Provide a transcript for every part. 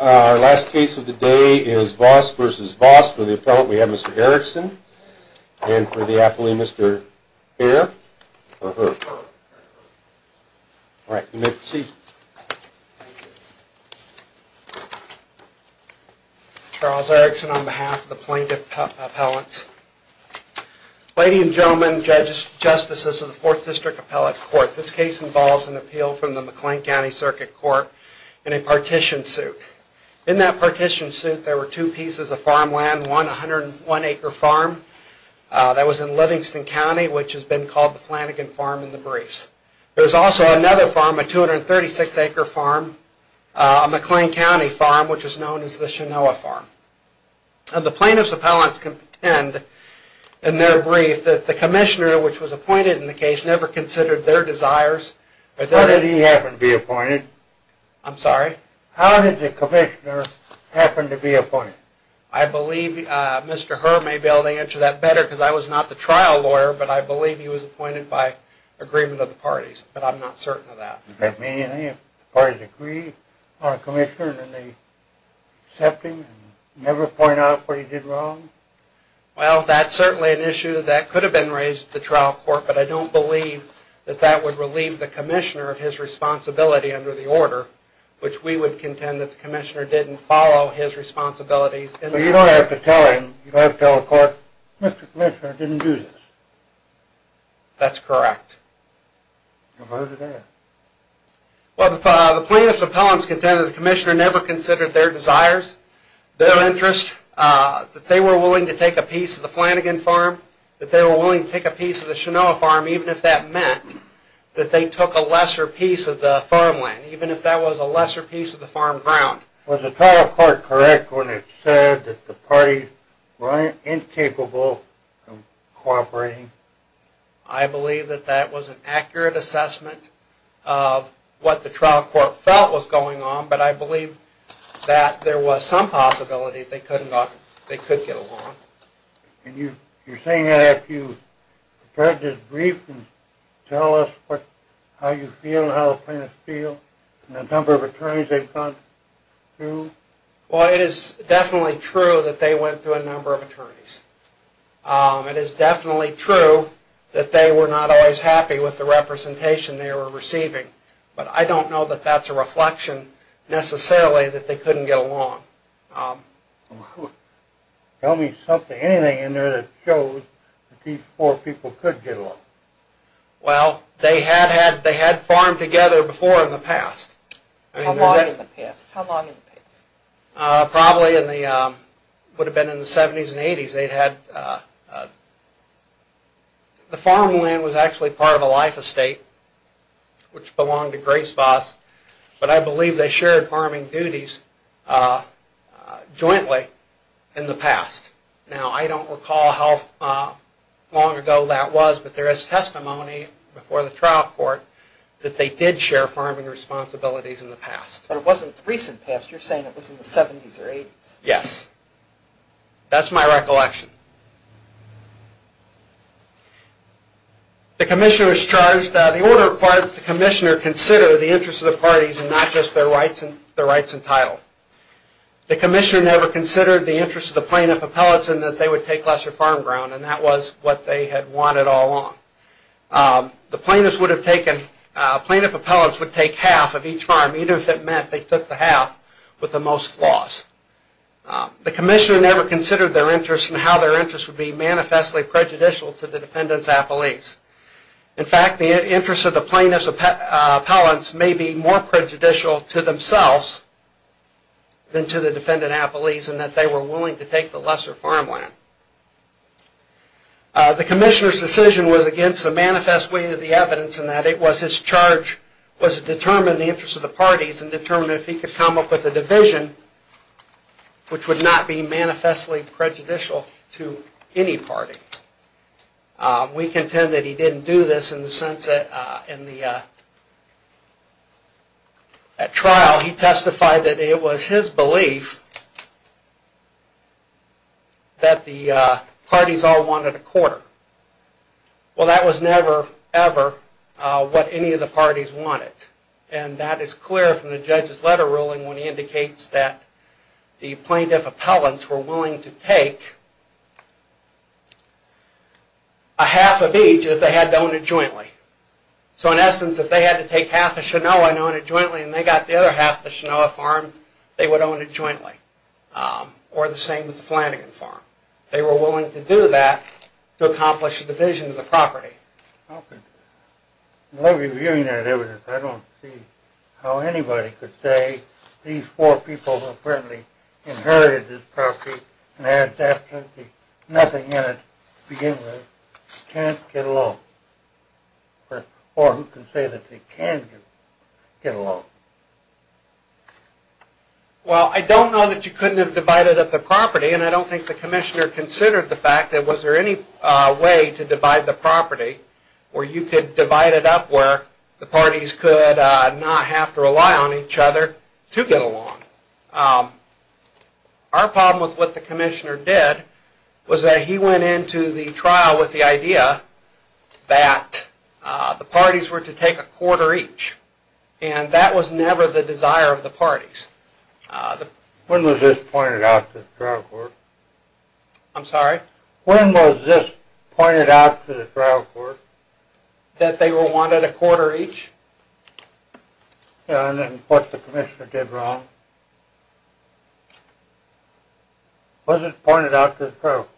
Our last case of the day is Voss v. Voss. For the appellant we have Mr. Erickson and for the appellee Mr. Bair or her. Alright, you may proceed. Charles Erickson on behalf of the Plaintiff Appellants. Ladies and gentlemen, judges, justices of the 4th District Appellate Court. This case involves an appeal from the McLean County Circuit Court in a partition suit. In that partition suit there were two pieces of farmland. One, a 101 acre farm that was in Livingston County which has been called the Flanagan Farm in the briefs. There was also another farm, a 236 acre farm, a McLean County farm which is known as the Chenoa Farm. The Plaintiff's Appellants contend in their brief that the commissioner which was appointed in the case never considered their desires. How did he happen to be appointed? I'm sorry? How did the commissioner happen to be appointed? I believe Mr. Herr may be able to answer that better because I was not the trial lawyer but I believe he was appointed by agreement of the parties. But I'm not certain of that. Does that mean anything if the parties agree on a commissioner and they accept him and never point out what he did wrong? Well, that's certainly an issue that could have been raised at the trial court but I don't believe that that would relieve the commissioner of his responsibility under the order which we would contend that the commissioner didn't follow his responsibilities. So you don't have to tell him, you don't have to tell the court, Mr. Commissioner didn't do this? That's correct. Well, who did that? Well, the Plaintiff's Appellants contend that the commissioner never considered their desires, their interests, that they were willing to take a piece of the Flanagan Farm, that they were willing to take a piece of the Chenoa Farm even if that meant that they took a lesser piece of the farmland, even if that was a lesser piece of the farm ground. Was the trial court correct when it said that the parties were incapable of cooperating? I believe that that was an accurate assessment of what the trial court felt was going on but I believe that there was some possibility that they could get along. And you're saying that after you heard this brief and tell us how you feel and how the plaintiffs feel and the number of attorneys they've gone through? Well, it is definitely true that they went through a number of attorneys. It is definitely true that they were not always happy with the representation they were receiving. But I don't know that that's a reflection necessarily that they couldn't get along. Tell me anything in there that shows that these four people could get along. Well, they had farmed together before in the past. How long in the past? Probably would have been in the 70s and 80s. The farmland was actually part of a life estate which belonged to Grace Voss. But I believe they shared farming duties jointly in the past. Now I don't recall how long ago that was but there is testimony before the trial court that they did share farming responsibilities in the past. But it wasn't in the recent past. You're saying it was in the 70s or 80s. Yes. That's my recollection. The commissioner was charged that the order required that the commissioner consider the interests of the parties and not just their rights and title. The commissioner never considered the interests of the plaintiff appellates and that they would take lesser farm ground and that was what they had wanted all along. The plaintiff appellates would take half of each farm even if it meant they took the half with the most flaws. The commissioner never considered their interests and how their interests would be manifestly prejudicial to the defendant's appellates. In fact, the interests of the plaintiff's appellates may be more prejudicial to themselves than to the defendant's appellates and that they were willing to take the lesser farm land. The commissioner's decision was against the manifest way of the evidence and that it was his charge was to determine the interests of the parties and determine if he could come up with a division which would not be manifestly prejudicial to any party. We contend that he didn't do this in the sense that in the trial he testified that it was his belief that the parties all wanted a quarter. Well, that was never ever what any of the parties wanted and that is clear from the judge's letter ruling when he indicates that the plaintiff appellates were willing to take a half of each if they had to own it jointly. So in essence, if they had to take half of Chenoa and own it jointly and they got the other half of the Chenoa farm, they would own it jointly. Or the same with the Flanagan farm. They were willing to do that to accomplish the division of the property. I love reviewing that evidence. I don't see how anybody could say these four people who apparently inherited this property and had nothing in it to begin with can't get along. Or who can say that they can get along. Well, I don't know that you couldn't have divided up the property and I don't think the commissioner considered the fact that was there any way to divide the property where you could divide it up where the parties could not have to rely on each other to get along. Our problem with what the commissioner did was that he went into the trial with the idea that the parties were to take a quarter each. And that was never the desire of the parties. When was this pointed out to the trial court? I'm sorry? When was this pointed out to the trial court? That they were wanted a quarter each? And what the commissioner did wrong? Was it pointed out to the trial court?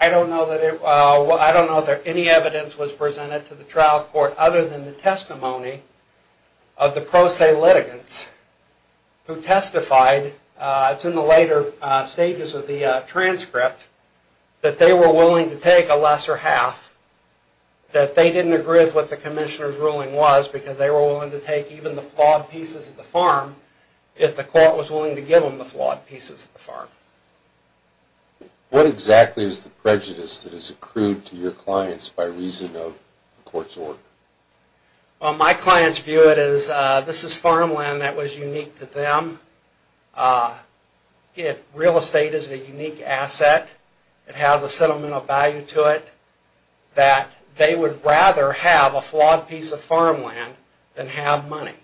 I don't know that any evidence was presented to the trial court other than the testimony of the pro se litigants. Who testified, it's in the later stages of the transcript, that they were willing to take a lesser half. That they didn't agree with what the commissioner's ruling was because they were willing to take even the flawed pieces of the farm if the court was willing to give them the flawed pieces of the farm. What exactly is the prejudice that is accrued to your clients by reason of the court's order? Well, my clients view it as this is farmland that was unique to them. Real estate is a unique asset. It has a sentimental value to it that they would rather have a flawed piece of farmland than have money.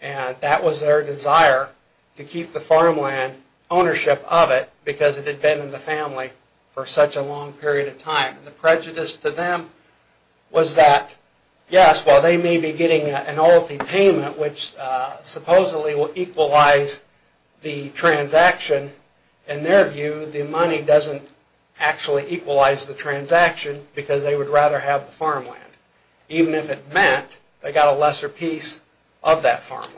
And that was their desire to keep the farmland ownership of it because it had been in the family for such a long period of time. The prejudice to them was that, yes, while they may be getting an allotted payment which supposedly will equalize the transaction, in their view, the money doesn't actually equalize the transaction because they would rather have the farmland. Even if it meant they got a lesser piece of that farmland.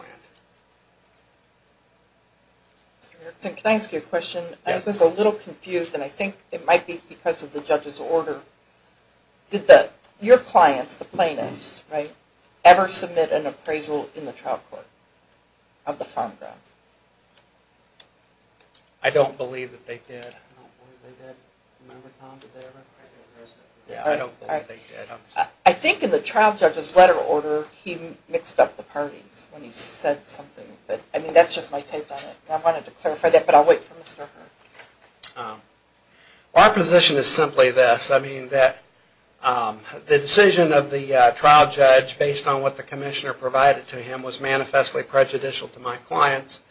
Can I ask you a question? I was a little confused and I think it might be because of the judge's order. Did your clients, the plaintiffs, ever submit an appraisal in the trial court of the farm ground? I don't believe that they did. I don't believe they did. Remember Tom, did they ever? I don't believe they did. I think in the trial judge's letter order he mixed up the parties when he said something. That's just my take on it. I wanted to clarify that but I'll wait for Mr. Hurd. Our position is simply this. The decision of the trial judge based on what the commissioner provided to him was manifestly prejudicial to my clients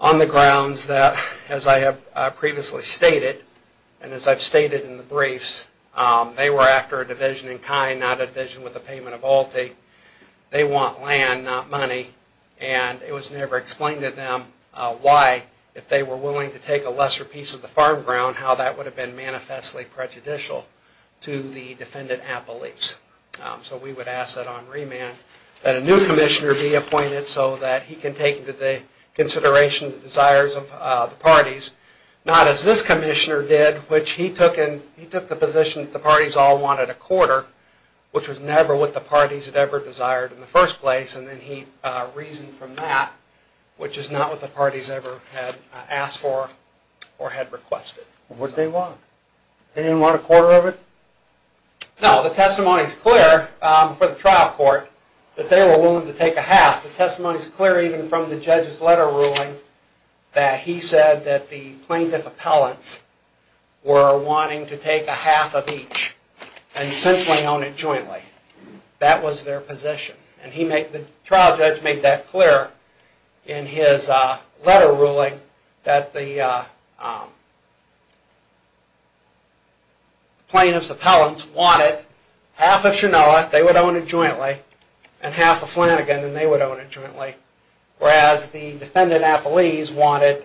on the grounds that, as I have previously stated, and as I've stated in the briefs, they were after a division in kind, not a division with a payment of alte. They want land, not money. And it was never explained to them why, if they were willing to take a lesser piece of the farm ground, how that would have been manifestly prejudicial to the defendant at beliefs. So we would ask that on remand that a new commissioner be appointed so that he can take into consideration the desires of the parties, not as this commissioner did, which he took the position that the parties all wanted a quarter, which was never what the parties had ever desired in the first place, and then he reasoned from that, which is not what the parties ever had asked for or had requested. What did they want? They didn't want a quarter of it? No, the testimony is clear for the trial court that they were willing to take a half. The testimony is clear even from the judge's letter ruling that he said that the plaintiff appellants were wanting to take a half of each and essentially own it jointly. That was their position. The trial judge made that clear in his letter ruling that the plaintiff's appellants wanted half of Chenoa, they would own it jointly, and half of Flanagan, and they would own it jointly. Whereas the defendant at beliefs wanted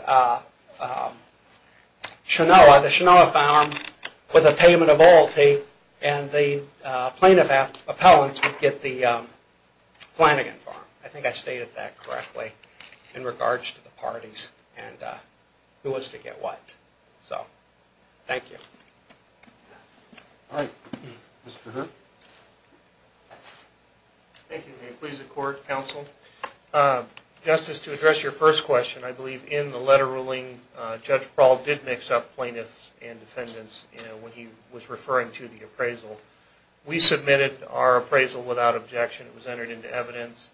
Chenoa, the Chenoa farm, with a payment of loyalty, and the plaintiff appellants would get the Flanagan farm. I think I stated that correctly in regards to the parties and who was to get what. So, thank you. Thank you. May it please the court, counsel. Justice, to address your first question, I believe in the letter ruling, Judge Prowl did mix up plaintiffs and defendants when he was referring to the appraisal. We submitted our appraisal without objection, it was entered into evidence.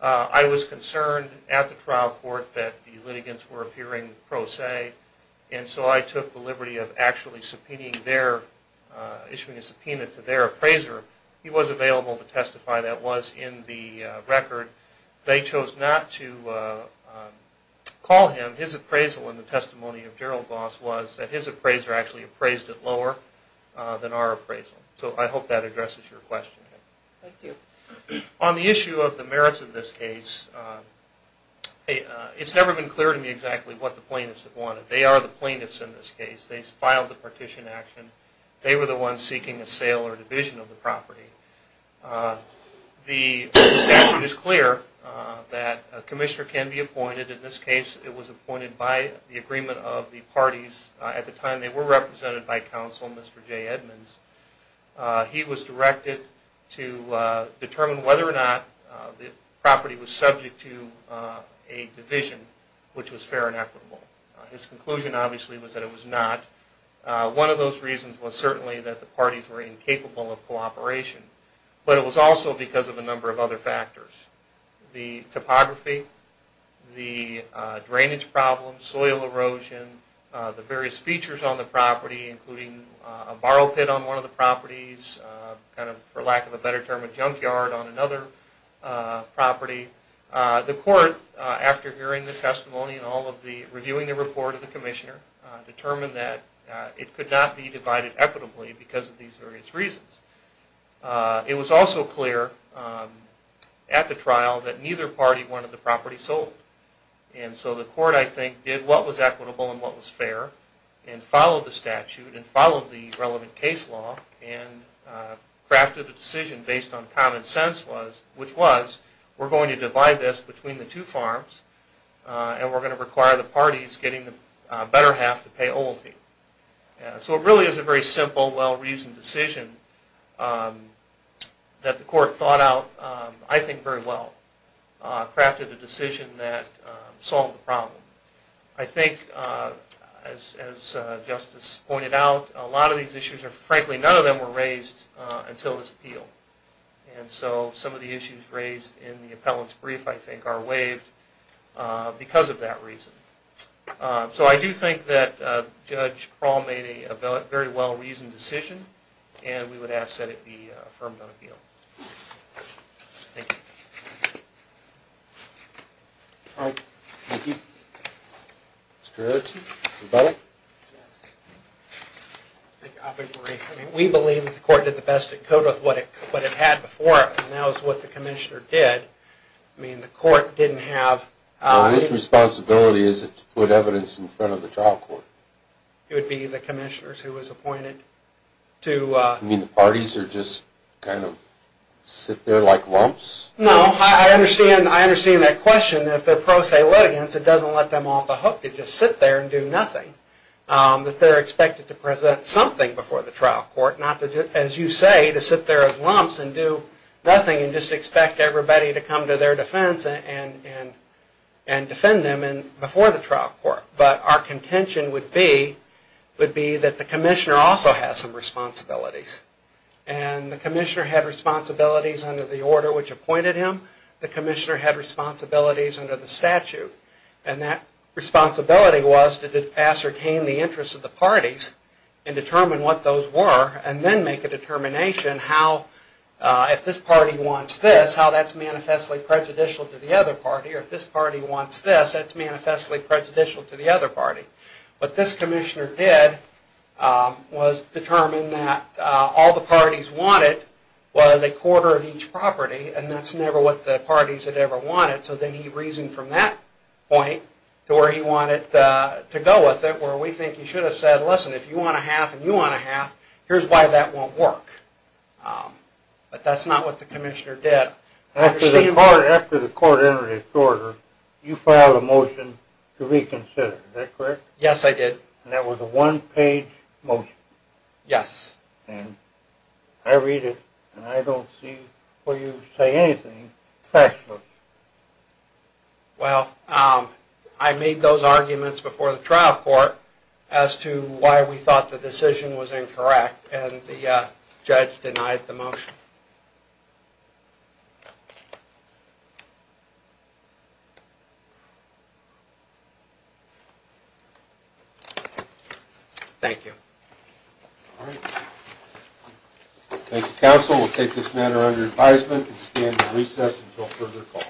I was concerned at the trial court that the litigants were appearing pro se, and so I took the liberty of actually subpoenaing their, issuing a subpoena to their appraiser. He was available to testify, that was in the record. They chose not to call him. His appraisal in the testimony of Gerald Voss was that his appraiser actually appraised it lower than our appraisal. So, I hope that addresses your question. Thank you. On the issue of the merits of this case, it's never been clear to me exactly what the plaintiffs have wanted. They are the plaintiffs in this case. They filed the partition action. They were the ones seeking a sale or division of the property. The statute is clear that a commissioner can be appointed. In this case, it was appointed by the agreement of the parties at the time they were represented by counsel, Mr. J. Edmonds. He was directed to determine whether or not the property was subject to a division, which was fair and equitable. His conclusion, obviously, was that it was not. One of those reasons was certainly that the parties were incapable of cooperation. But it was also because of a number of other factors. The topography, the drainage problem, soil erosion, the various features on the property, including a borrow pit on one of the properties, for lack of a better term, a junkyard on another property. The court, after hearing the testimony and reviewing the report of the commissioner, determined that it could not be divided equitably because of these various reasons. It was also clear at the trial that neither party wanted the property sold. So the court, I think, did what was equitable and what was fair, and followed the statute and followed the relevant case law, and crafted a decision based on common sense, which was, we're going to divide this between the two farms, and we're going to require the parties getting the better half to pay OLTI. So it really is a very simple, well-reasoned decision that the court thought out, I think, very well. Crafted a decision that solved the problem. I think, as Justice pointed out, a lot of these issues are, frankly, none of them were raised until this appeal. And so some of the issues raised in the appellant's brief, I think, are waived because of that reason. So I do think that Judge Prawl made a very well-reasoned decision, and we would ask that it be affirmed on appeal. Thank you. All right. Thank you. Mr. Erickson, rebuttal? I'll be brief. I mean, we believe that the court did the best it could with what it had before us, and that was what the commissioner did. I mean, the court didn't have... Well, his responsibility is to put evidence in front of the trial court. It would be the commissioners who was appointed to... You mean the parties are just kind of sit there like lumps? No. I understand that question. If they're pro se litigants, it doesn't let them off the hook to just sit there and do nothing. They're expected to present something before the trial court, not, as you say, to sit there as lumps and do nothing and just expect everybody to come to their defense and defend them before the trial court. But our contention would be that the commissioner also has some responsibilities, and the commissioner had responsibilities under the order which appointed him. The commissioner had responsibilities under the statute, and that responsibility was to ascertain the interests of the parties and determine what those were and then make a determination how, if this party wants this, how that's manifestly prejudicial to the other party, or if this party wants this, that's manifestly prejudicial to the other party. What this commissioner did was determine that all the parties wanted was a quarter of each property, and that's never what the parties had ever wanted, so then he reasoned from that point to where he wanted to go with it, where we think he should have said, listen, if you want a half and you want a half, here's why that won't work. But that's not what the commissioner did. After the court entered its order, you filed a motion to reconsider, is that correct? Yes, I did. And that was a one-page motion. Yes. And I read it, and I don't see where you say anything factual. Well, I made those arguments before the trial court as to why we thought the decision was incorrect, and the judge denied the motion. Thank you. All right. Thank you, counsel. We'll take this matter under advisement and stand at recess until further call.